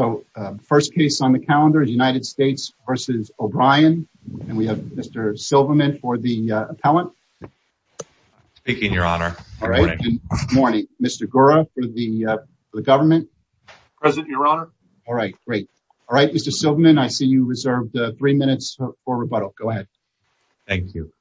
So first case on the calendar, United States v. O'Brien, and we have Mr. Silverman for the appellant. Speaking, Your Honor. Good morning. Good morning. Mr. Gura for the government. Present, Your Honor. All right. Great. All right, Mr. Silverman, I see you reserved three minutes for rebuttal. Go ahead. Thank you.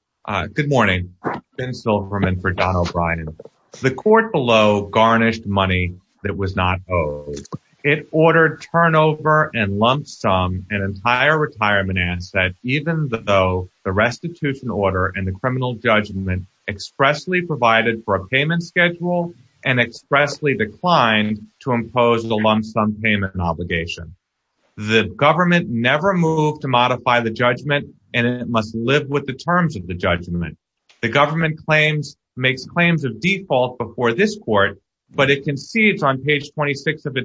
Good morning. Ben Silverman for Don O'Brien. The court below garnished money that was not owed. It ordered turnover and lump sum, an entire retirement asset, even though the restitution order and the criminal judgment expressly provided for a payment schedule and expressly declined to impose the lump sum payment obligation. The government never moved to modify the judgment, and it must live with the terms of the judgment. The government makes claims of default before this court, but it concedes on page 26 of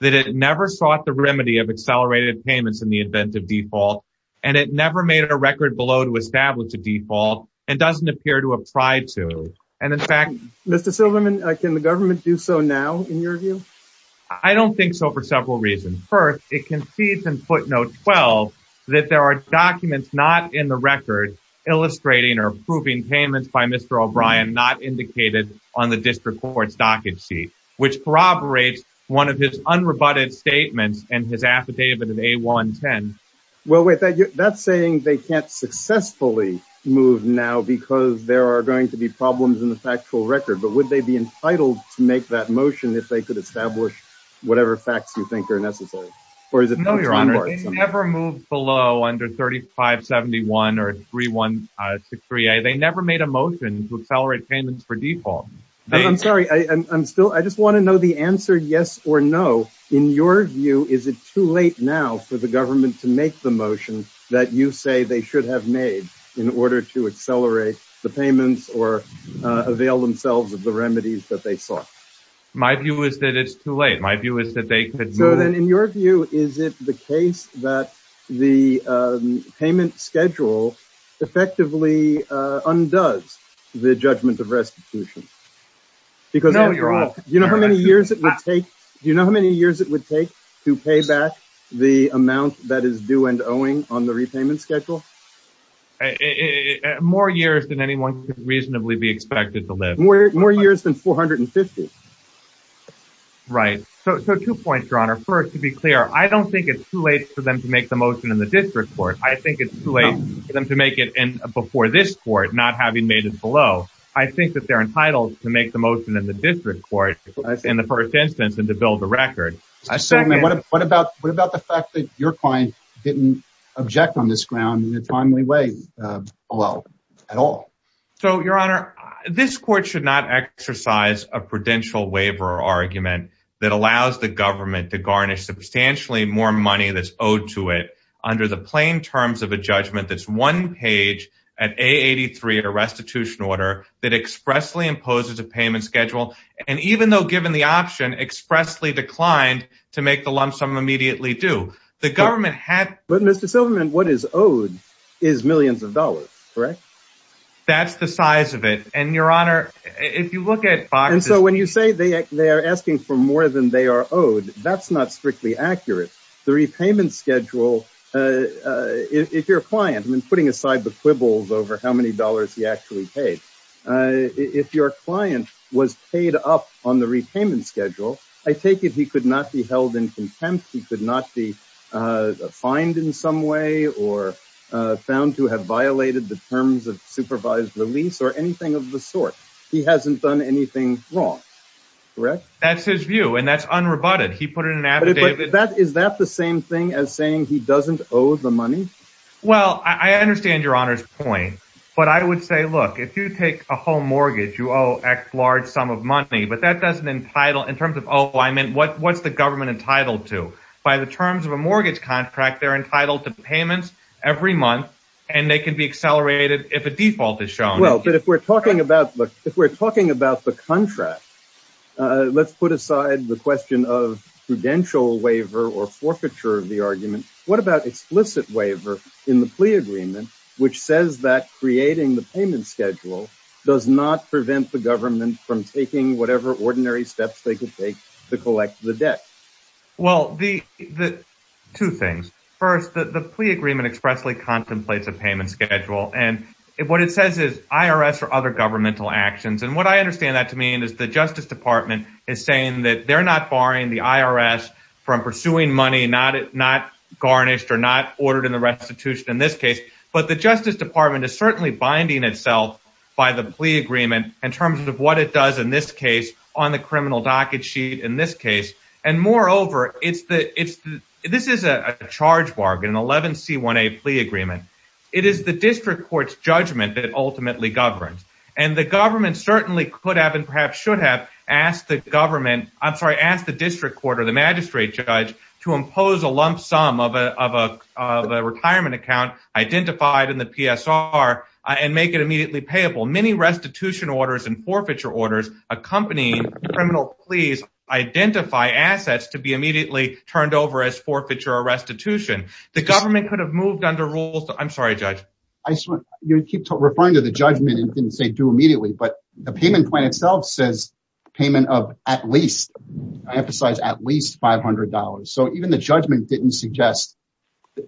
that it never sought the remedy of accelerated payments in the event of default, and it never made a record below to establish a default and doesn't appear to have tried to. And in fact, Mr. Silverman, can the government do so now, in your view? I don't think so. For several reasons. First, it concedes in footnote 12 that there are documents not in the record illustrating or proving payments by Mr. O'Brien not indicated on the district court's docket sheet, which corroborates one of his unrebutted statements and his affidavit of A110. Well, wait, that's saying they can't successfully move now because there are going to be problems in the factual record. But would they be entitled to make that motion if they could establish whatever facts you think are necessary? No, Your Honor, they never moved below under 3571 or 3163. They never made a motion to accelerate payments for default. I'm sorry. I'm still – I just want to know the answer, yes or no. In your view, is it too late now for the government to make the motion that you say they should have made in order to accelerate the payments or avail themselves of the remedies that they sought? My view is that it's too late. My view is that they could move – So then in your view, is it the case that the payment schedule effectively undoes the judgment of restitution? Because you know how many years it would take to pay back the amount that is due and owing on the repayment schedule? More years than anyone could reasonably be expected to live. More years than 450. Right. So two points, Your Honor. First, to be clear, I don't think it's too late for them to make the motion in the district court. I think it's too late for them to make it before this court, not having made it below. I think that they're entitled to make the motion in the district court in the first instance and to build the record. What about the fact that your client didn't object on this ground in a timely way at all? So Your Honor, this court should not exercise a prudential waiver argument that allows the government to garnish substantially more money that's owed to it under the plain terms of a judgment that's one page at A83, a restitution order, that expressly imposes a payment schedule, and even though given the option, expressly declined to make the lump sum immediately due. The government had – But Mr. Silverman, what is owed is millions of dollars, correct? That's the size of it. And Your Honor, if you look at – And so when you say they are asking for more than they are owed, that's not strictly accurate. The repayment schedule, if your client – I'm putting aside the quibbles over how many dollars he actually paid. If your client was paid up on the repayment schedule, I take it he could not be held in contempt. He could not be fined in some way or found to have violated the terms of supervised release or anything of the sort. He hasn't done anything wrong, correct? That's his view, and that's unrebutted. He put it in an affidavit – But is that the same thing as saying he doesn't owe the money? Well, I understand Your Honor's point, but I would say, look, if you take a home mortgage, you owe X large sum of money, but that doesn't entitle – in terms of owing, what's the government entitled to? By the terms of a mortgage contract, they're entitled to payments every month, and they can be accelerated if a default is shown. Well, but if we're talking about the contract, let's put aside the question of prudential waiver or forfeiture of the argument. What about explicit waiver in the plea agreement, which says that creating the payment schedule does not prevent the government from taking whatever ordinary steps they could take to collect the debt? Well, two things. First, the plea agreement expressly contemplates a payment schedule, and what it says is, I don't owe money to the IRS or other governmental actions, and what I understand that to mean is the Justice Department is saying that they're not barring the IRS from pursuing money not garnished or not ordered in the restitution in this case, but the Justice Department is certainly binding itself by the plea agreement in terms of what it does in this case on the criminal docket sheet in this case, and moreover, this is a charge bargain, an 11C1A plea agreement. It is the district court's judgment that ultimately governs, and the government certainly could have and perhaps should have asked the district court or the magistrate judge to impose a lump sum of a retirement account identified in the PSR and make it immediately payable. Many restitution orders and forfeiture orders accompanying criminal pleas identify assets to be immediately turned over as forfeiture or restitution. The government could have moved under rules, I'm sorry, Judge. I keep referring to the judgment and didn't say do immediately, but the payment plan itself says payment of at least, I emphasize at least $500, so even the judgment didn't suggest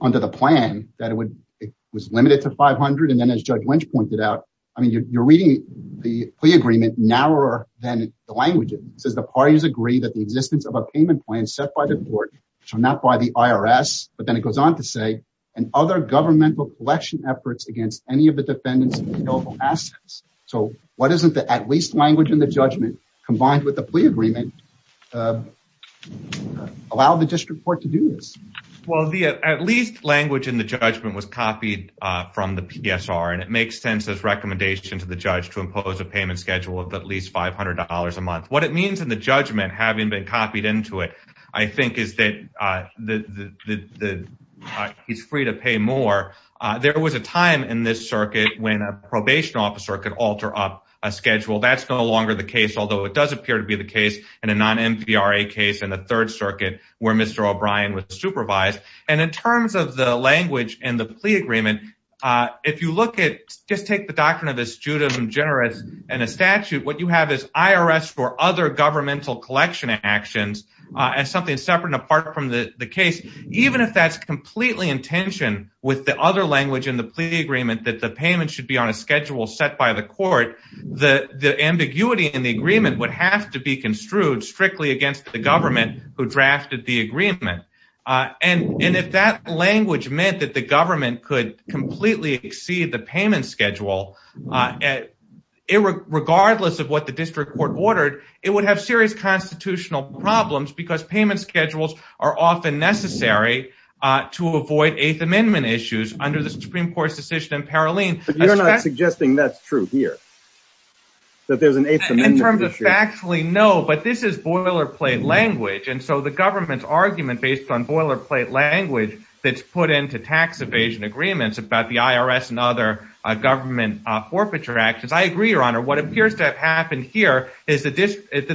under the plan that it was limited to $500, and then as Judge Lynch pointed out, I mean, you're reading the plea agreement narrower than the language, it says the parties agree that the existence of a payment plan set by the court, so not by the IRS, but then it goes on to say, and other governmental collection efforts against any of the defendants of the assets, so why doesn't the at least language in the judgment combined with the plea agreement allow the district court to do this? Well, the at least language in the judgment was copied from the PSR, and it makes sense as recommendation to the judge to impose a payment schedule of at least $500 a month. What it means in the judgment, having been copied into it, I think is that he's free to pay more. There was a time in this circuit when a probation officer could alter up a schedule. That's no longer the case, although it does appear to be the case in a non-MPRA case in the Third Circuit where Mr. O'Brien was supervised, and in terms of the language in the plea agreement, if you look at, just take the doctrine of astutum generis and a statute, what you have is IRS for other governmental collection actions as something separate and apart from the case. Even if that's completely in tension with the other language in the plea agreement that the payment should be on a schedule set by the court, the ambiguity in the agreement would have to be construed strictly against the government who drafted the agreement. If that language meant that the government could completely exceed the payment schedule, regardless of what the district court ordered, it would have serious constitutional problems because payment schedules are often necessary to avoid Eighth Amendment issues under the Supreme Court's decision in Paroline. But you're not suggesting that's true here, that there's an Eighth Amendment issue? In terms of factually, no, but this is boilerplate language, and so the government's argument based on boilerplate language that's put into tax evasion agreements about the IRS and other government forfeiture actions, I agree, Your Honor. What appears to have happened here is that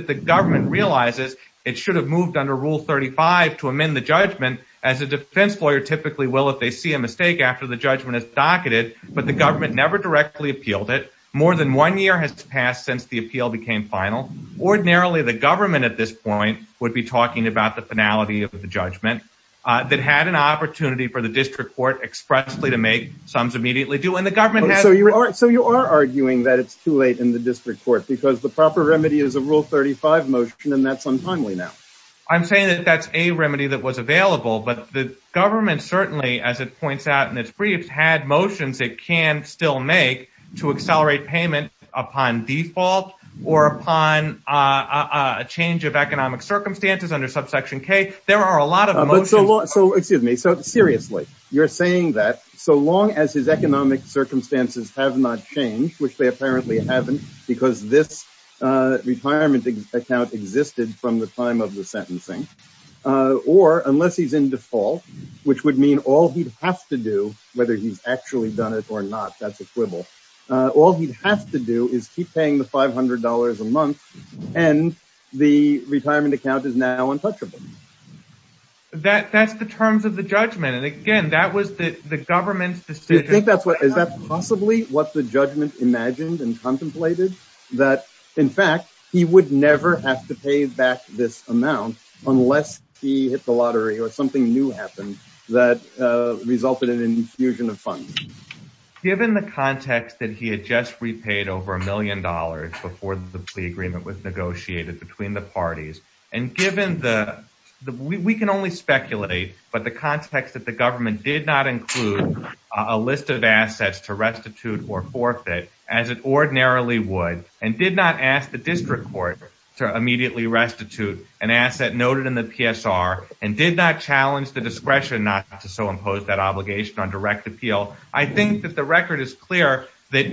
the government realizes it should have moved under Rule 35 to amend the judgment, as a defense lawyer typically will if they see a mistake after the judgment is docketed, but the government never directly appealed it. More than one year has passed since the appeal became final. Ordinarily, the government at this point would be talking about the finality of the judgment that had an opportunity for the district court expressly to make sums immediately due, and So you are arguing that it's too late in the district court because the proper remedy is a Rule 35 motion, and that's untimely now. I'm saying that that's a remedy that was available, but the government certainly, as it points out in its briefs, had motions it can still make to accelerate payment upon default or upon a change of economic circumstances under Subsection K. There are a lot of motions... So, excuse me, so seriously, you're saying that so long as his economic circumstances have not changed, which they apparently haven't because this retirement account existed from the time of the sentencing, or unless he's in default, which would mean all he'd have to do, whether he's actually done it or not, that's a quibble, all he'd have to do is keep paying the $500 a month, and the retirement account is now untouchable. That's the terms of the judgment, and again, that was the government's decision. You think that's what... Is that possibly what the judgment imagined and contemplated, that, in fact, he would never have to pay back this amount unless he hit the lottery or something new happened that resulted in an infusion of funds? Given the context that he had just repaid over a million dollars before the plea agreement was negotiated between the parties, and given the... We can only speculate, but the context that the government did not include a list of assets to restitute or forfeit, as it ordinarily would, and did not ask the district court to immediately restitute an asset noted in the PSR, and did not challenge the discretion not to so impose that obligation on direct appeal, I think that the record is clear that...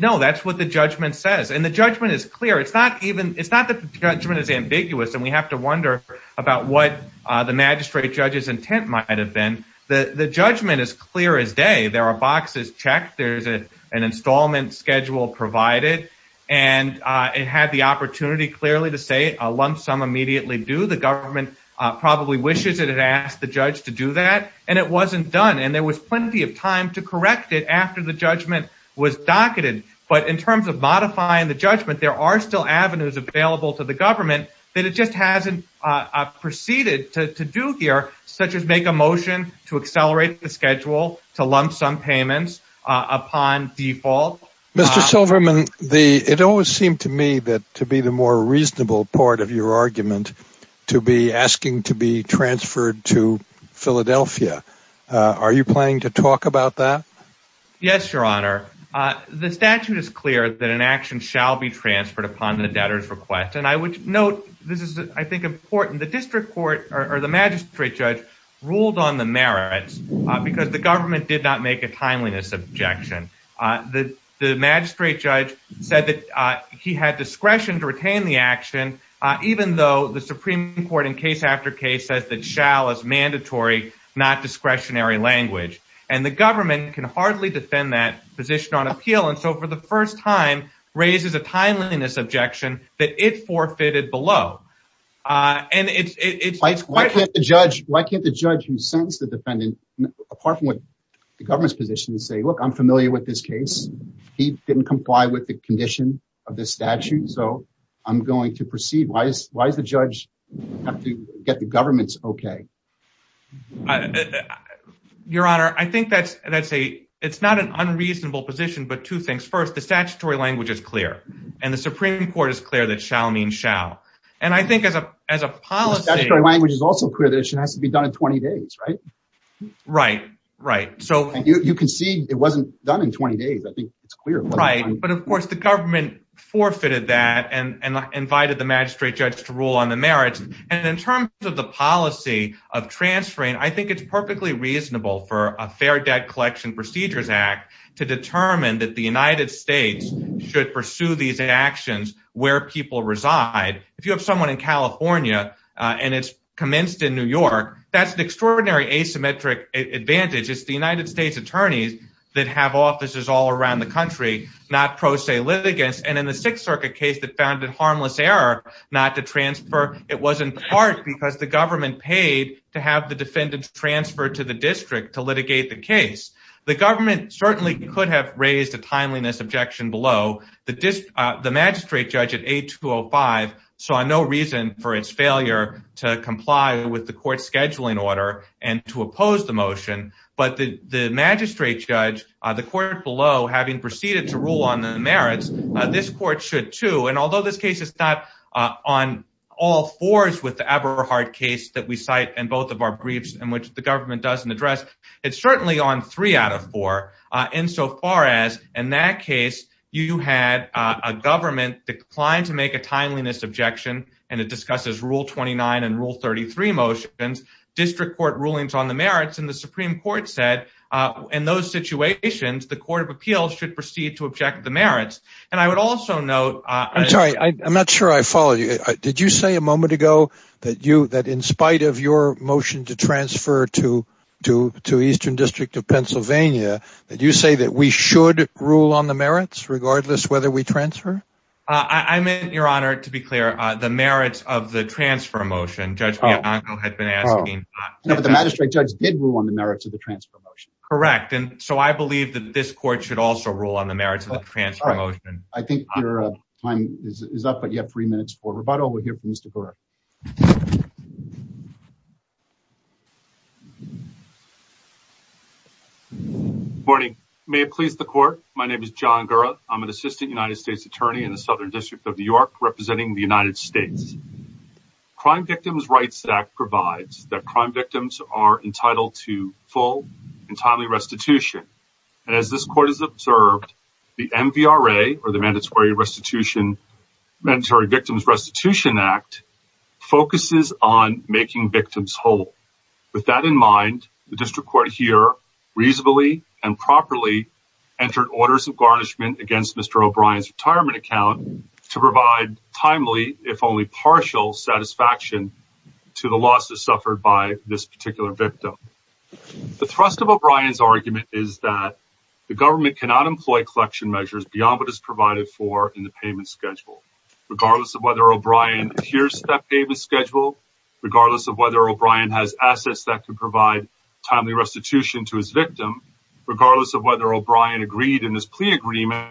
No, that's what the judgment says. The judgment is clear. It's not even... It's not that the judgment is ambiguous, and we have to wonder about what the magistrate judge's intent might have been. The judgment is clear as day. There are boxes checked, there's an installment schedule provided, and it had the opportunity clearly to say a lump sum immediately due. The government probably wishes it had asked the judge to do that, and it wasn't done, and there was plenty of time to correct it after the judgment was docketed, but in terms of modifying the judgment, there are still avenues available to the government that it just hasn't proceeded to do here, such as make a motion to accelerate the schedule to lump sum payments upon default. Mr. Silverman, it always seemed to me that to be the more reasonable part of your argument to be asking to be transferred to Philadelphia. Are you planning to talk about that? Yes, Your Honor. The statute is clear that an action shall be transferred upon the debtor's request, and I would note, this is, I think, important. The district court, or the magistrate judge, ruled on the merits because the government did not make a timeliness objection. The magistrate judge said that he had discretion to retain the action, even though the Supreme Court in case after case says that shall is mandatory, not discretionary language, and the government can hardly defend that position on appeal, and so for the first time, raises a timeliness objection that it forfeited below. And it's quite- Why can't the judge who sentenced the defendant, apart from what the government's position to say, look, I'm familiar with this case. He didn't comply with the condition of the statute, so I'm going to proceed. Why does the judge have to get the government's okay? Your Honor, I think that's a, it's not an unreasonable position, but two things. First, the statutory language is clear, and the Supreme Court is clear that shall means shall, and I think as a policy- The statutory language is also clear that it has to be done in 20 days, right? Right, right. So- And you concede it wasn't done in 20 days. I think it's clear. Right, but of course, the government forfeited that and invited the magistrate judge to rule on the merits. And in terms of the policy of transferring, I think it's perfectly reasonable for a Fair Debt Collection Procedures Act to determine that the United States should pursue these actions where people reside. If you have someone in California, and it's commenced in New York, that's an extraordinary asymmetric advantage. It's the United States attorneys that have offices all around the country, not pro se However, it was in part because the government paid to have the defendants transferred to the district to litigate the case. The government certainly could have raised a timeliness objection below. The magistrate judge at 8205 saw no reason for its failure to comply with the court's scheduling order and to oppose the motion, but the magistrate judge, the court below, having proceeded to rule on the merits, this court should too. Although this case is not on all fours with the Eberhardt case that we cite in both of our briefs in which the government doesn't address, it's certainly on three out of four insofar as, in that case, you had a government decline to make a timeliness objection, and it discusses Rule 29 and Rule 33 motions, district court rulings on the merits, and the Supreme Court said, in those situations, the Court of Appeals should proceed to object the merits. And I would also note... I'm sorry. I'm not sure I follow you. Did you say a moment ago that you, that in spite of your motion to transfer to Eastern District of Pennsylvania, that you say that we should rule on the merits regardless whether we transfer? I meant, Your Honor, to be clear, the merits of the transfer motion, Judge Bianco had been asking... No, but the magistrate judge did rule on the merits of the transfer motion. Correct. Correct. And so I believe that this court should also rule on the merits of the transfer motion. I think your time is up, but you have three minutes for rebuttal. We'll hear from Mr. Gura. Good morning. May it please the court. My name is John Gura. I'm an assistant United States attorney in the Southern District of New York, representing the United States. Crime Victims' Rights Act provides that crime victims are entitled to full and timely restitution, and as this court has observed, the MVRA, or the Mandatory Victims Restitution Act, focuses on making victims whole. With that in mind, the district court here reasonably and properly entered orders of garnishment against Mr. O'Brien's retirement account to provide timely, if only partial, satisfaction to the losses suffered by this particular victim. The thrust of O'Brien's argument is that the government cannot employ collection measures beyond what is provided for in the payment schedule. Regardless of whether O'Brien adheres to that payment schedule, regardless of whether O'Brien has assets that can provide timely restitution to his victim, regardless of whether O'Brien agreed in his plea agreement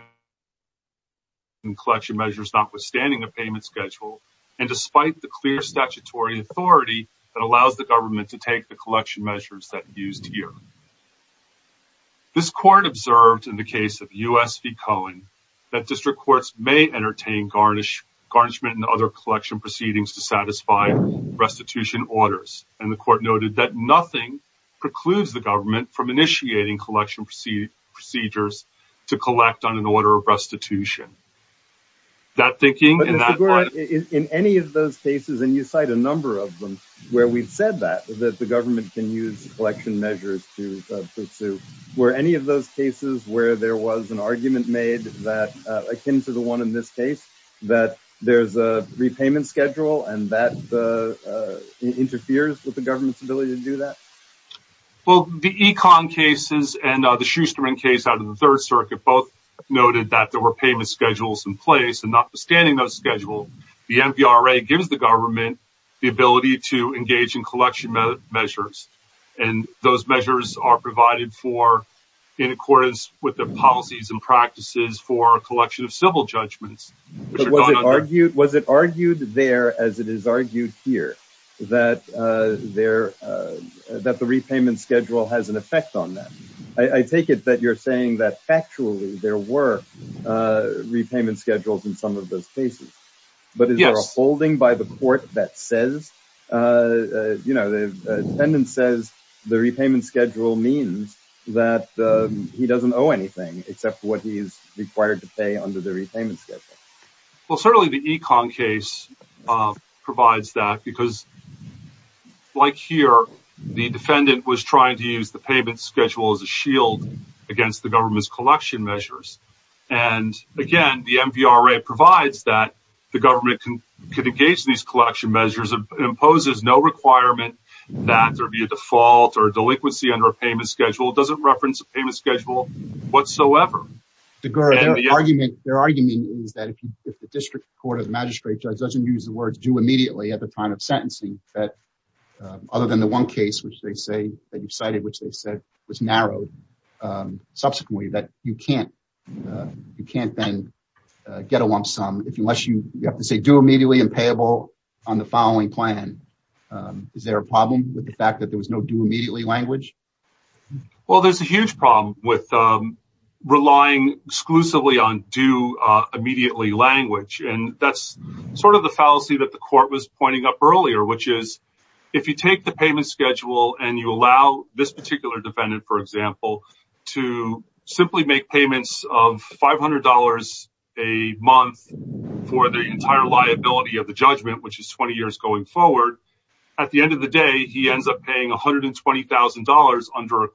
on collection measures notwithstanding a payment schedule, and despite the clear statutory authority that allows the government to take the collection measures that are used here. This court observed in the case of U.S. v. Cohen that district courts may entertain garnishment and other collection proceedings to satisfy restitution orders, and the court noted that nothing precludes the government from initiating collection procedures to collect on an order of restitution. That thinking and that... But Mr. Gorin, in any of those cases, and you cite a number of them where we've said that, that the government can use collection measures to pursue, were any of those cases where there was an argument made that, akin to the one in this case, that there's a repayment schedule and that interferes with the government's ability to do that? Well, the Econ cases and the Schusterman case out of the Third Circuit both noted that there were payment schedules in place, and notwithstanding those schedules, the MVRA gives the government the ability to engage in collection measures, and those measures are provided for in accordance with the policies and practices for collection of civil judgments, which are gone under... Was it argued there, as it is argued here, that the repayment schedule has an effect on that? I take it that you're saying that, factually, there were repayment schedules in some of those cases. Yes. But is there a holding by the court that says, you know, the defendant says the repayment schedule means that he doesn't owe anything, except what he's required to pay under the repayment schedule? Well, certainly the Econ case provides that, because, like here, the defendant was trying to use the payment schedule as a shield against the government's collection measures. And, again, the MVRA provides that the government can engage in these collection measures, imposes no requirement that there be a default or a delinquency under a payment schedule, doesn't reference a payment schedule whatsoever. DeGuerre, their argument is that if the district court or the magistrate judge doesn't use the words due immediately at the time of sentencing, that other than the one case which they say that you've cited, which they said was narrowed subsequently, that you can't then get a lump sum unless you have to say due immediately and payable on the following plan. Is there a problem with the fact that there was no due immediately language? Well, there's a huge problem with relying exclusively on due immediately language. And that's sort of the fallacy that the court was pointing up earlier, which is, if you take the payment schedule and you allow this particular defendant, for example, to simply make payments of $500 a month for the entire liability of the judgment, which is 20 years going forward, at the end of the day, he ends up paying $120,000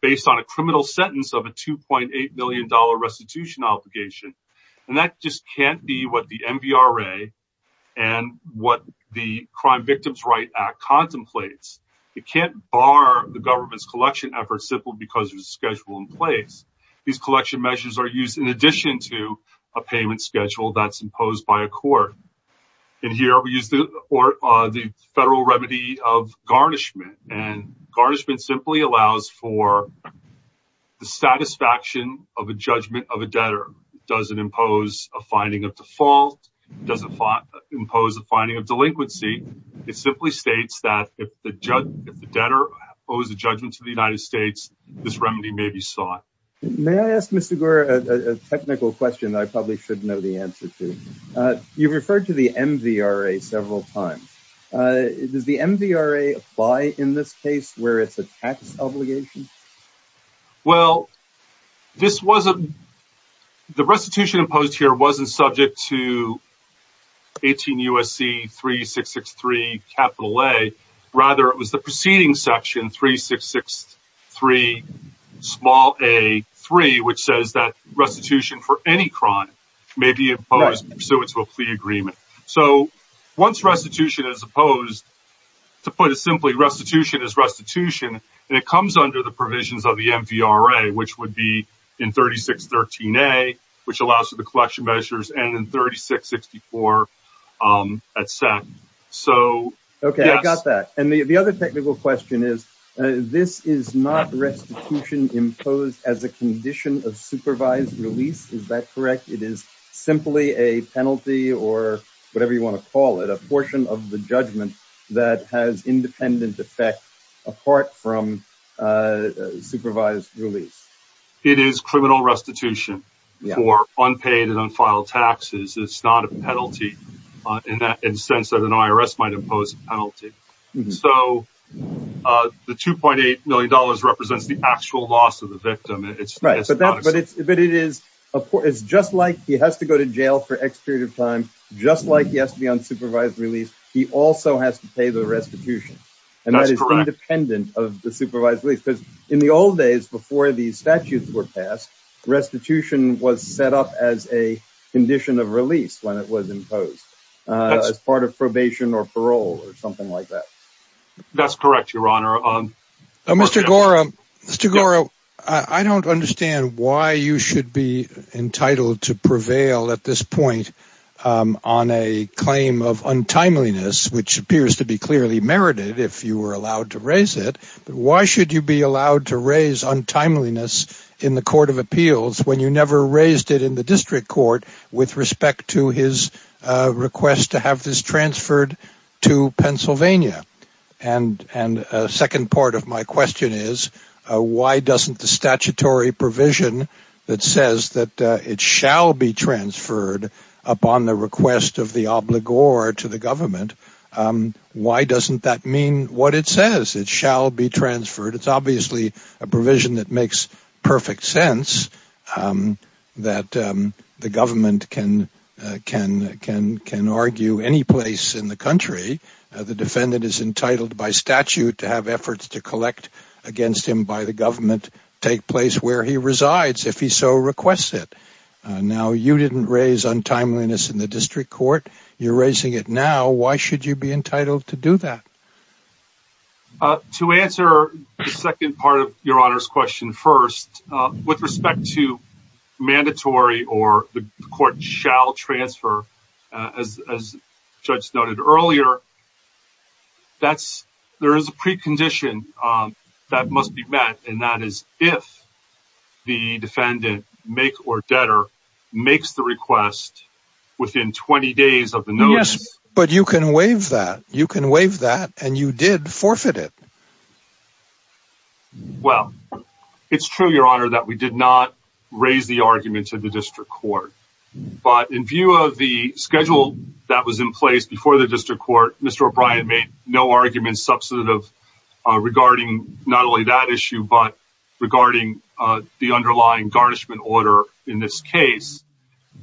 based on a criminal sentence of a $2.8 million restitution obligation. And that just can't be what the MVRA and what the Crime Victims' Right Act contemplates. It can't bar the government's collection efforts simply because there's a schedule in place. These collection measures are used in addition to a payment schedule that's imposed by a court. And here, we use the federal remedy of garnishment, and garnishment simply allows for the satisfaction of a judgment of a debtor. Does it impose a finding of default? Does it impose a finding of delinquency? It simply states that if the debtor owes a judgment to the United States, this remedy may be sought. May I ask, Mr. Gore, a technical question that I probably should know the answer to? You've referred to the MVRA several times. Does the MVRA apply in this case where it's a tax obligation? Well, the restitution imposed here wasn't subject to 18 U.S.C. 3663 A. Rather, it was the preceding section, 3663 small a 3, which says that restitution for any crime may be imposed pursuant to a plea agreement. So once restitution is imposed, to put it simply, restitution is restitution, and it applies to provisions of the MVRA, which would be in 3613 A, which allows for the collection measures, and in 3664, et cetera. So yes. Okay. I got that. And the other technical question is, this is not restitution imposed as a condition of supervised release. Is that correct? It is simply a penalty or whatever you want to call it, a portion of the judgment that has independent effect apart from supervised release. It is criminal restitution for unpaid and unfiled taxes. It's not a penalty in the sense that an IRS might impose a penalty. So the $2.8 million represents the actual loss of the victim. Right. But it is just like he has to go to jail for X period of time, just like he has to be on That's correct. And that is independent of the supervised release. Because in the old days, before these statutes were passed, restitution was set up as a condition of release when it was imposed as part of probation or parole or something like that. That's correct, Your Honor. Mr. Gora, I don't understand why you should be entitled to prevail at this point on a to be clearly merited if you were allowed to raise it. Why should you be allowed to raise untimeliness in the Court of Appeals when you never raised it in the district court with respect to his request to have this transferred to Pennsylvania? And a second part of my question is, why doesn't the statutory provision that says that it shall be transferred upon the request of the obligor to the government, why doesn't that mean what it says? It shall be transferred. It's obviously a provision that makes perfect sense that the government can argue any place in the country. The defendant is entitled by statute to have efforts to collect against him by the government take place where he resides if he so requests it. Now you didn't raise untimeliness in the district court. You're raising it now. Why should you be entitled to do that? To answer the second part of Your Honor's question first, with respect to mandatory or the court shall transfer, as the judge noted earlier, there is a precondition that is if the defendant, make or debtor, makes the request within 20 days of the notice. But you can waive that. You can waive that and you did forfeit it. Well, it's true, Your Honor, that we did not raise the argument in the district court. But in view of the schedule that was in place before the district court, Mr. O'Brien made no argument substantive regarding not only that issue, but regarding the underlying garnishment order in this case.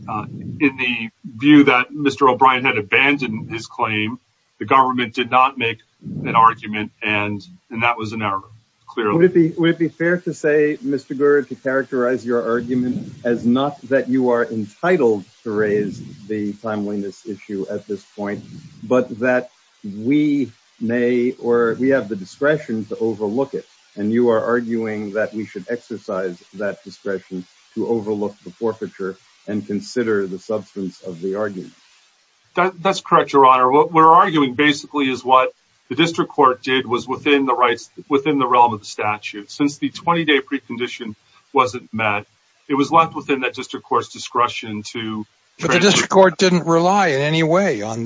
In the view that Mr. O'Brien had abandoned his claim, the government did not make an argument and that was an error, clearly. Would it be fair to say, Mr. Gurd, to characterize your argument as not that you are entitled to raise the timeliness issue at this point, but that we may or we have the discretion to overlook it. And you are arguing that we should exercise that discretion to overlook the forfeiture and consider the substance of the argument. That's correct, Your Honor. What we're arguing basically is what the district court did was within the rights, within the realm of the statute. Since the 20-day precondition wasn't met, it was left within that district court's discretion to... But the district court didn't rely in any way on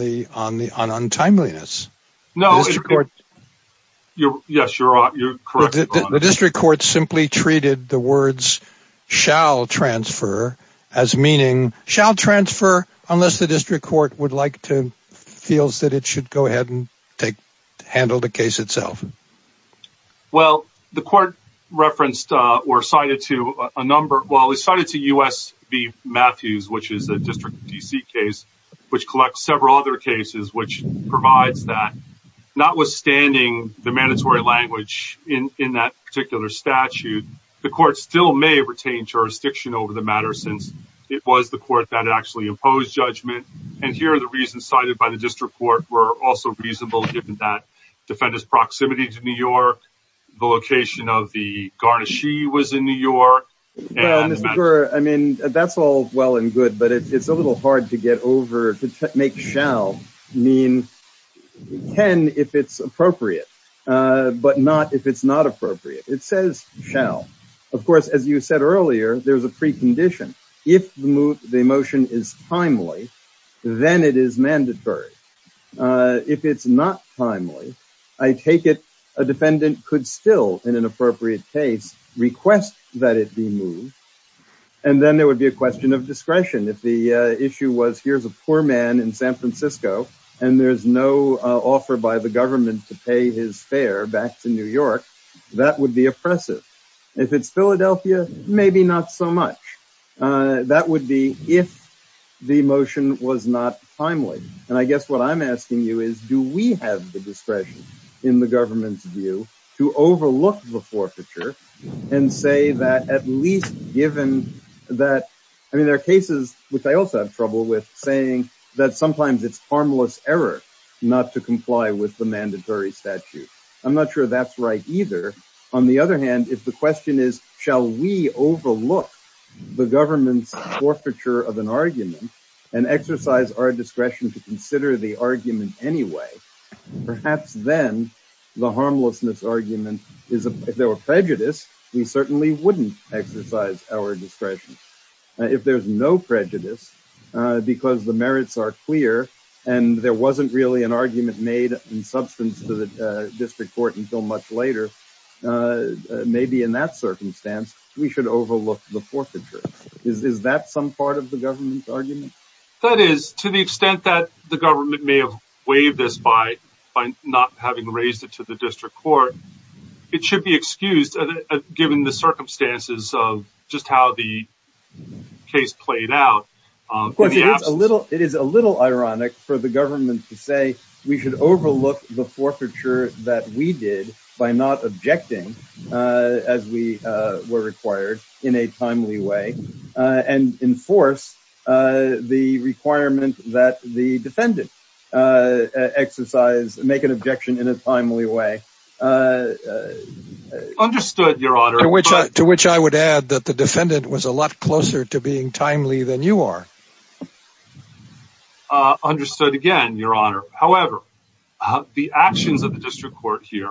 timeliness. No. The district court... Yes, you're correct, Your Honor. The district court simply treated the words, shall transfer, as meaning, shall transfer unless the district court would like to, feels that it should go ahead and handle the case itself. Well, the court referenced or cited to a number... Well, it's cited to U.S. v. Matthews, which is a District of D.C. case, which collects several other cases which provides that. Notwithstanding the mandatory language in that particular statute, the court still may retain jurisdiction over the matter since it was the court that actually imposed judgment. And here are the reasons cited by the district court were also reasonable given that defendant's proximity to New York, the location of the garnishee was in New York, and... Well, Mr. Gerr, I mean, that's all well and good, but it's a little hard to get over, to make shall mean can if it's appropriate, but not if it's not appropriate. It says shall. Of course, as you said earlier, there's a precondition. If the motion is timely, then it is mandatory. If it's not timely, I take it a defendant could still, in an appropriate case, request that it be moved, and then there would be a question of discretion. If the issue was here's a poor man in San Francisco, and there's no offer by the government to pay his fare back to New York, that would be oppressive. If it's Philadelphia, maybe not so much. That would be if the motion was not timely. And I guess what I'm asking you is, do we have the discretion in the government's view to overlook the forfeiture and say that at least given that, I mean, there are cases which I also have trouble with saying that sometimes it's harmless error not to comply with the mandatory statute. I'm not sure that's right either. On the other hand, if the question is, shall we overlook the government's forfeiture of an argument and exercise our discretion to consider the argument anyway, perhaps then the harmlessness argument is if there were prejudice, we certainly wouldn't exercise our discretion. If there's no prejudice, because the merits are clear, and there wasn't really an argument made in substance to the district court until much later, maybe in that circumstance, we should overlook the forfeiture. Is that some part of the government's argument? That is, to the extent that the government may have waived this by not having raised it to the district court, it should be excused given the circumstances of just how the case played out. Of course, it is a little ironic for the government to say we should overlook the forfeiture that we did by not objecting as we were required in a timely way, and enforce the requirement that the defendant exercise, make an objection in a timely way. Understood, Your Honor. To which I would add that the defendant was a lot closer to being timely than you are. Understood, again, Your Honor. However, the actions of the district court here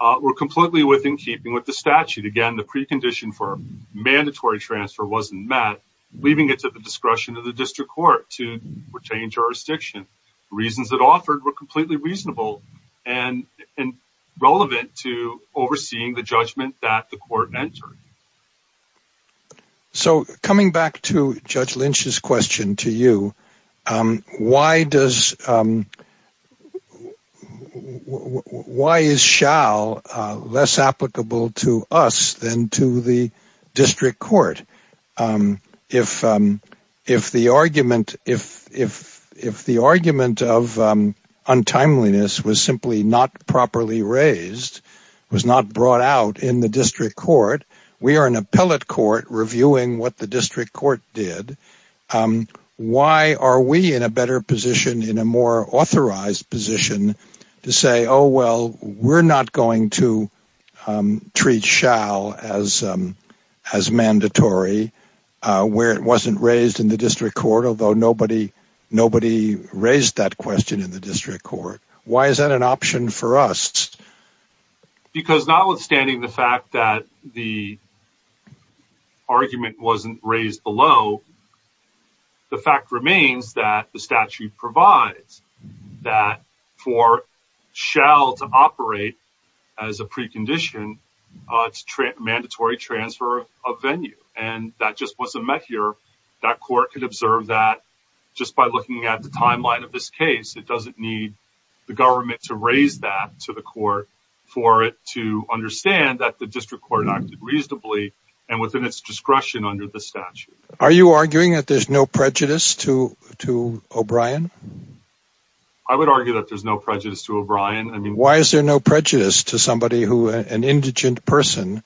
were completely within keeping with the statute. Again, the precondition for mandatory transfer wasn't met, leaving it to the discretion of the district court to retain jurisdiction. Reasons that offered were completely reasonable and relevant to overseeing the judgment that the court entered. So, coming back to Judge Lynch's question to you, why is shall less applicable to us than to the district court? If the argument of untimeliness was simply not properly raised, was not brought out in the district court, we are an appellate court reviewing what the district court did. Why are we in a better position, in a more authorized position, to say, oh, well, we're not going to treat shall as mandatory where it wasn't raised in the district court, although nobody raised that question in the district court. Why is that an option for us? Because notwithstanding the fact that the argument wasn't raised below, the fact remains that the statute provides that for shall to operate as a precondition to mandatory transfer of venue, and that just wasn't met here. That court could observe that just by looking at the timeline of this case. It doesn't need the government to raise that to the court for it to understand that the district court acted reasonably and within its discretion under the statute. Are you arguing that there's no prejudice to O'Brien? I would argue that there's no prejudice to O'Brien. Why is there no prejudice to somebody who, an indigent person,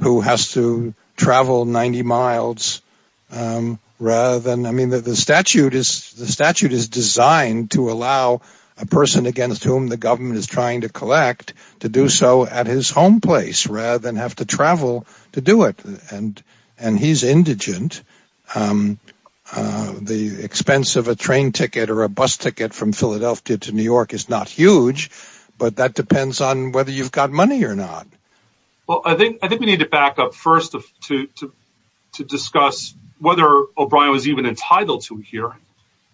who has to travel 90 miles rather than, I mean, the statute is designed to allow a person against whom the government is trying to collect to do so at his home place rather than have to travel to do it, and he's indigent. The expense of a train ticket or a bus ticket from Philadelphia to New York is not huge, but that depends on whether you've got money or not. Well, I think we need to back up first to discuss whether O'Brien was even entitled to a hearing.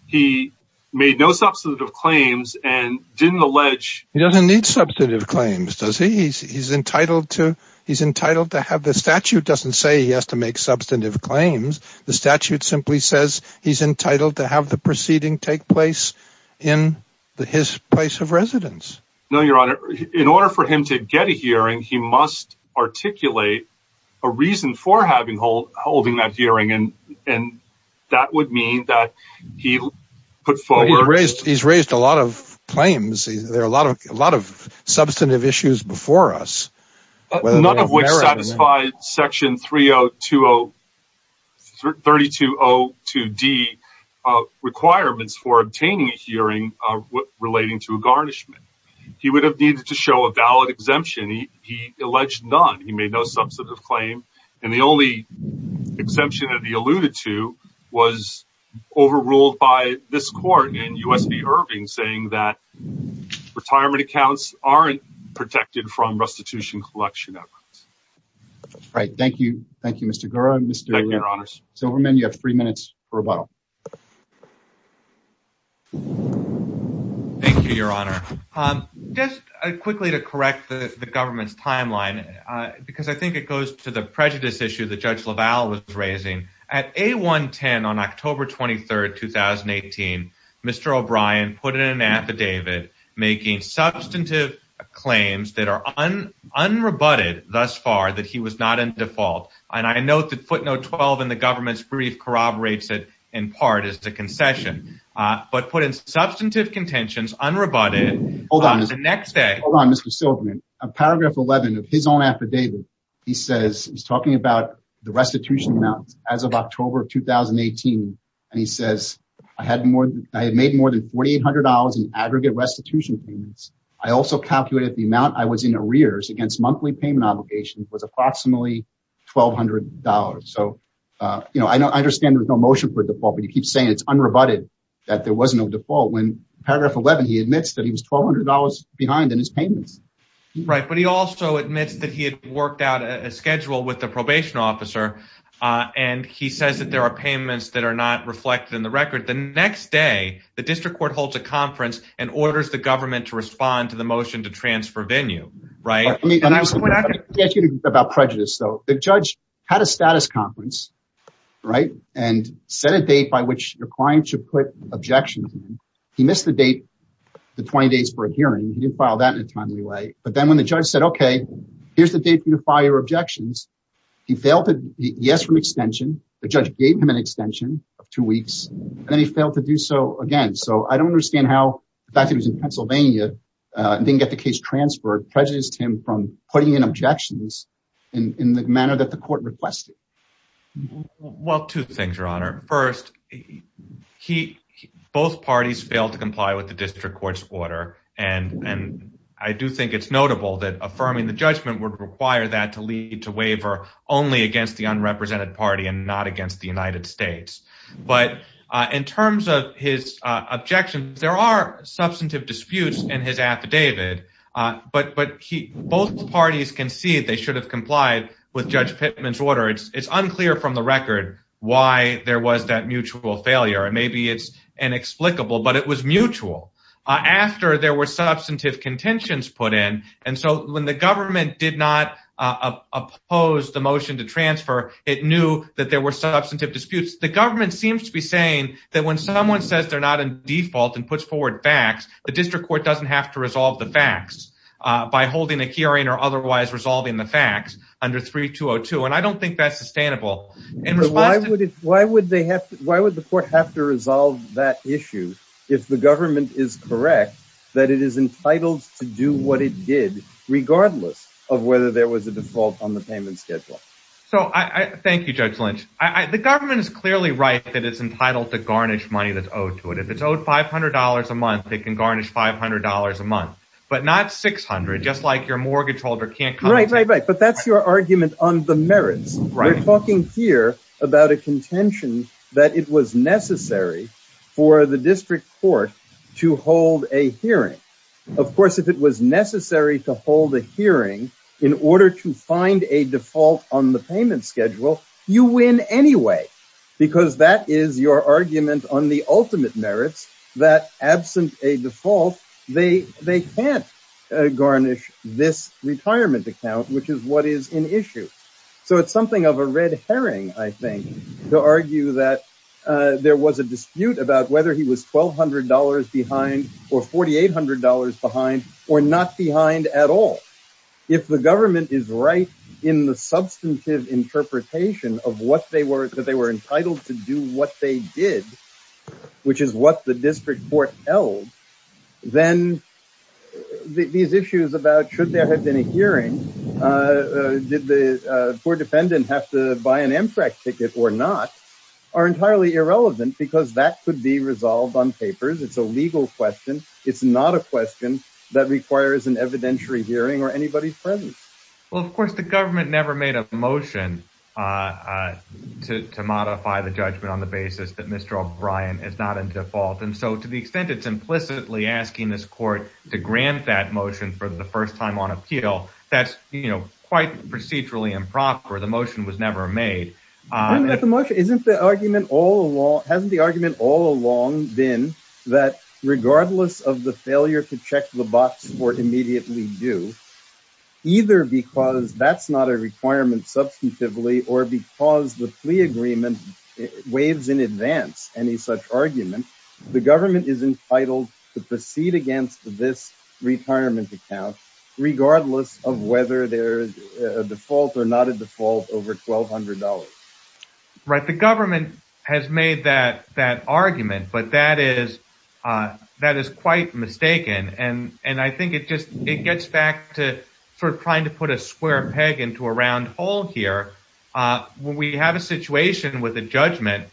He made no substantive claims and didn't allege... He doesn't need substantive claims, does he? He's entitled to have... The statute doesn't say he has to make substantive claims. The statute simply says he's entitled to have the proceeding take place in his place of residence. No, Your Honor. In order for him to get a hearing, he must articulate a reason for holding that hearing, and that would mean that he put forward... He's raised a lot of claims. There are a lot of substantive issues before us, whether they have merit or not. None of which satisfy Section 3202D requirements for obtaining a hearing relating to a garnishment. He would have needed to show a valid exemption. He alleged none. He made no substantive claim. And the only exemption that he alluded to was overruled by this court in U.S. v. Irving, saying that retirement accounts aren't protected from restitution collection efforts. Right. Thank you. Thank you, Mr. Gura. Thank you, Your Honors. Silverman, you have three minutes for rebuttal. Thank you, Your Honor. Just quickly to correct the government's timeline, because I think it goes to the prejudice issue that Judge LaValle was raising. At A110 on October 23rd, 2018, Mr. O'Brien put in an affidavit making substantive claims that are unrebutted thus far, that he was not in default. And I note that footnote 12 in the government's brief corroborates it in part as a concession, but put in substantive contentions, unrebutted the next day. Hold on, Mr. Silverman. Paragraph 11 of his own affidavit, he says he's talking about the restitution amounts as of October of 2018. And he says, I had made more than $4,800 in aggregate restitution payments. I also calculated the amount I was in arrears against monthly payment obligations was approximately $1,200. So, you know, I understand there's no motion for default, but you keep saying it's unrebutted, that there was no default. When paragraph 11, he admits that he was $1,200 behind in his payments. Right. But he also admits that he had worked out a schedule with the probation officer. And he says that there are payments that are not reflected in the record. The next day, the district court holds a conference and orders the government to respond to the motion to transfer venue, right? About prejudice, though, the judge had a status conference, right? And set a date by which your client should put objections. He missed the date, the 20 days for a hearing. He didn't file that in a timely way. But then when the judge said, okay, here's the date for your fire objections. He failed to yes from extension. The judge gave him an extension of two weeks and then he failed to do so again. So I don't understand how the fact that he was in Pennsylvania and didn't get the case transferred prejudiced him from putting in objections in the manner that the court requested. Well, two things, Your Honor. First, both parties failed to comply with the district court's order. And I do think it's notable that affirming the judgment would require that to lead to waiver only against the unrepresented party and not against the United States. But in terms of his objections, there are substantive disputes in his affidavit. But both parties concede they should have complied with Judge Pittman's order. It's unclear from the record why there was that mutual failure. Maybe it's inexplicable, but it was mutual after there were substantive contentions put in. And so when the government did not oppose the motion to transfer, it knew that there were substantive disputes. The government seems to be saying that when someone says they're not in default and puts forward facts, the district court doesn't have to resolve the facts by holding a hearing or otherwise resolving the facts under 3202. And I don't think that's sustainable. Why would the court have to resolve that issue if the government is correct that it is entitled to do what it did regardless of whether there was a default on the payment schedule? Thank you, Judge Lynch. The government is clearly right that it's entitled to garnish money that's owed to it. If it's owed $500 a month, it can garnish $500 a month, but not $600, just like your mortgage holder can't compensate. Right, right, right. But that's your argument on the merits. We're talking here about a contention that it was necessary for the district court to hold a hearing. Of course, if it was necessary to hold a hearing in order to find a default on the payment schedule, you win anyway, because that is your argument on the ultimate merits that absent a default, they can't garnish this retirement account, which is what is an issue. So it's something of a red herring, I think, to argue that there was a dispute about whether he was $1,200 behind or $4,800 behind or not behind at all. If the government is right in the substantive interpretation of what they were, that they were entitled to do what they did, which is what the district court held, then these issues about should there have been a hearing, did the poor defendant have to buy an Amtrak ticket or not, are entirely irrelevant, because that could be resolved on papers. It's a legal question. It's not a question that requires an evidentiary hearing or anybody's presence. Well, of course, the government never made a motion to modify the judgment on the basis that Mr. O'Brien is not in default. And so to the extent it's implicitly asking this court to grant that motion for the first time on appeal, that's quite procedurally improper. The motion was never made. Isn't the argument all along, hasn't the argument all along been that regardless of the failure to check the box for immediately due, either because that's not a requirement substantively or because the plea agreement waives in advance any such argument, the government is entitled to proceed against this retirement account regardless of whether there is a default or Right. The government has made that argument, but that is quite mistaken. And I think it gets back to trying to put a square peg into a round hole here. When we have a situation with a judgment,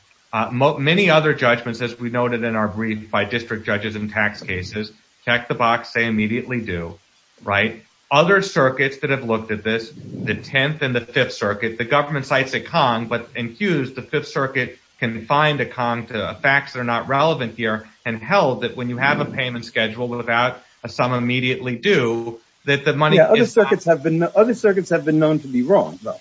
many other judgments, as we noted in our brief by district judges and tax cases, check the box, say immediately due, right? Other circuits that have looked at this, the 10th and the 5th Circuit, the government cites a con, but in Hughes, the 5th Circuit can find a con to facts that are not relevant here and held that when you have a payment schedule without a sum immediately due, that the money is not. Other circuits have been known to be wrong, though.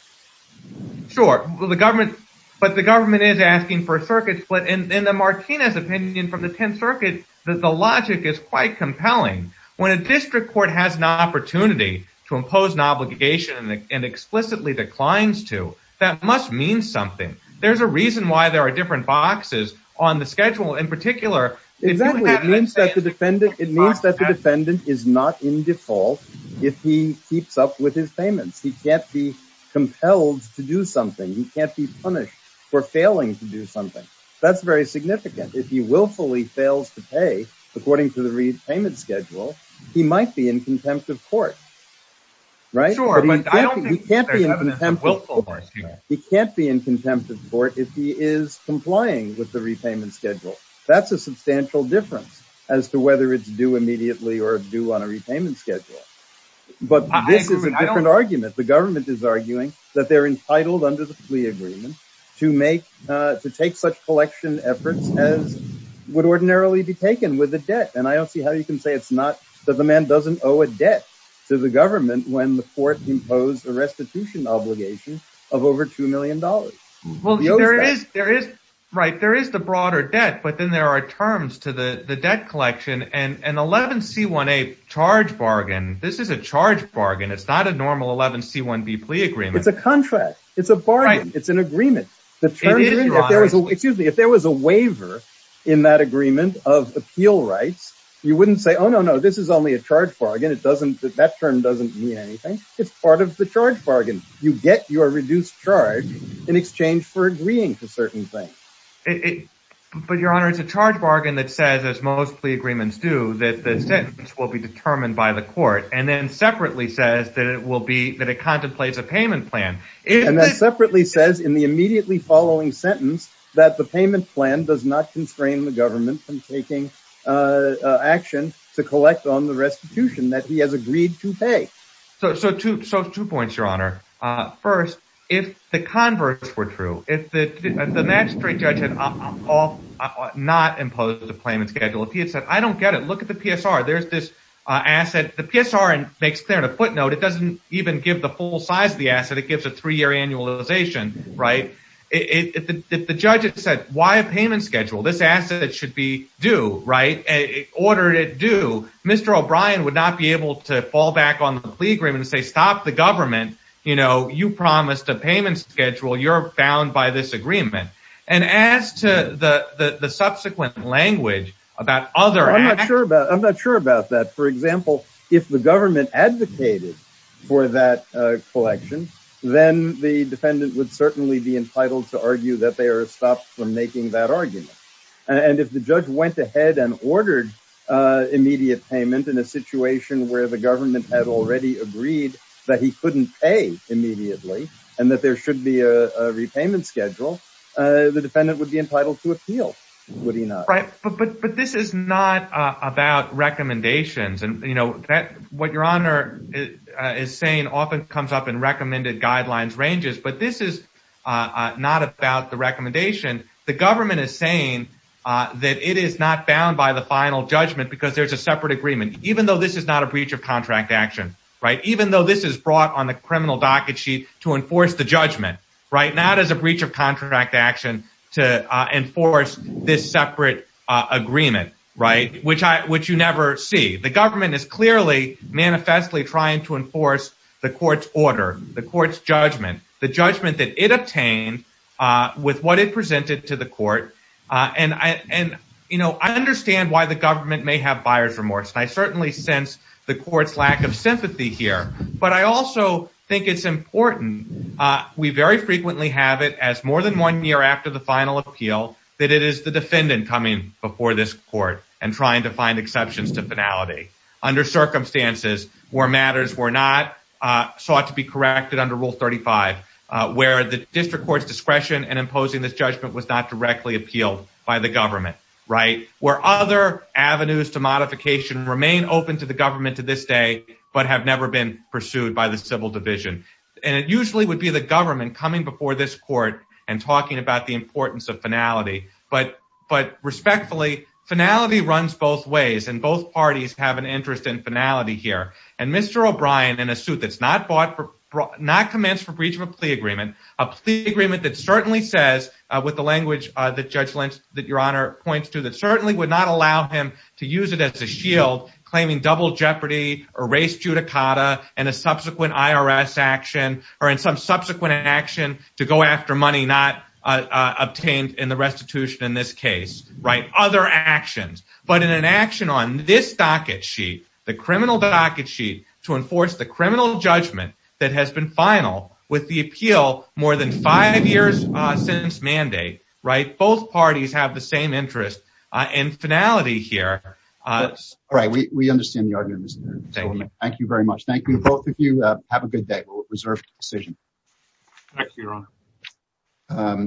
Sure, but the government is asking for a circuit split. And in the Martinez opinion from the 10th Circuit, the logic is quite compelling. When a district court has an opportunity to impose an obligation and explicitly declines to, that must mean something. There's a reason why there are different boxes on the schedule in particular. Exactly. It means that the defendant is not in default if he keeps up with his payments. He can't be compelled to do something. He can't be punished for failing to do something. That's very significant. If he willfully fails to pay according to the repayment schedule, he might be in contempt of court, right? He can't be in contempt of court if he is complying with the repayment schedule. That's a substantial difference as to whether it's due immediately or due on a repayment schedule. But this is a different argument. The government is arguing that they're entitled under the plea agreement to take such collection efforts as would ordinarily be taken with a debt. And I don't see how you can say it's not that the man doesn't owe a debt to the government when the court imposed a restitution obligation of over $2 million. Well, there is the broader debt, but then there are terms to the debt collection. And an 11C1A charge bargain, this is a charge bargain. It's not a normal 11C1B plea agreement. It's a contract. It's a bargain. It's an agreement. Excuse me. If there was a waiver in that agreement of appeal rights, you wouldn't say, oh, no, no, this is only a charge bargain. That term doesn't mean anything. It's part of the charge bargain. You get your reduced charge in exchange for agreeing to certain things. But, Your Honor, it's a charge bargain that says, as most plea agreements do, that the sentence will be determined by the court and then separately says that it contemplates a payment plan. And then separately says in the immediately following sentence that the payment plan does not constrain the government from taking action to collect on the restitution that he has agreed to pay. So two points, Your Honor. First, if the converse were true, if the magistrate judge had not imposed a payment schedule, if he had said, I don't get it. Look at the PSR. There's this asset. The PSR makes clear in a footnote, it doesn't even give the full size of the asset. It gives a three-year annualization, right? If the judge had said, why a payment schedule? This asset should be due, right? It ordered it due. Mr. O'Brien would not be able to fall back on the plea agreement and say, stop the government. You know, you promised a payment schedule. You're bound by this agreement. And as to the subsequent language about other assets. I'm not sure about that. For example, if the government advocated for that collection, then the defendant would certainly be entitled to argue that they are stopped from making that argument. And if the judge went ahead and ordered immediate payment in a situation where the government had already agreed that he couldn't pay immediately and that there should be a repayment schedule, the defendant would be entitled to appeal. Would he not? Right. But this is not about recommendations. And, you know, what Your Honor is saying often comes up in recommended guidelines ranges. But this is not about the recommendation. The government is saying that it is not bound by the final judgment because there's a separate agreement, even though this is not a breach of contract action, right? Even though this is brought on the criminal docket sheet to enforce the judgment, right? Not as a breach of contract action to enforce this separate agreement, right? Which you never see. The government is clearly manifestly trying to enforce the court's order, the court's judgment that it obtained with what it presented to the court. And, you know, I understand why the government may have buyer's remorse. I certainly sense the court's lack of sympathy here. But I also think it's important. We very frequently have it as more than one year after the final appeal that it is the defendant coming before this court and trying to find exceptions to finality under circumstances where matters were not sought to be corrected under Rule 35, where the district court's discretion in imposing this judgment was not directly appealed by the government, right? Where other avenues to modification remain open to the government to this day, but have never been pursued by the civil division. And it usually would be the government coming before this court and talking about the importance of finality. But respectfully, finality runs both ways. And both parties have an interest in finality here. And Mr. O'Brien, in a suit that's not bought for, not commenced for breach of a plea agreement, a plea agreement that certainly says, with the language that Judge Lynch, that Your Honor points to, that certainly would not allow him to use it as a shield, claiming double jeopardy or race judicata and a subsequent IRS action or in some subsequent action to go after money not obtained in the restitution in this case, right? Other actions. But in an action on this docket sheet, the criminal docket sheet to enforce the criminal judgment that has been final with the appeal more than five years since mandate, right? Both parties have the same interest in finality here. All right. We understand the argument, Mr. Chairman. Thank you very much. Thank you to both of you. We'll reserve the decision. Thank you, Your Honor.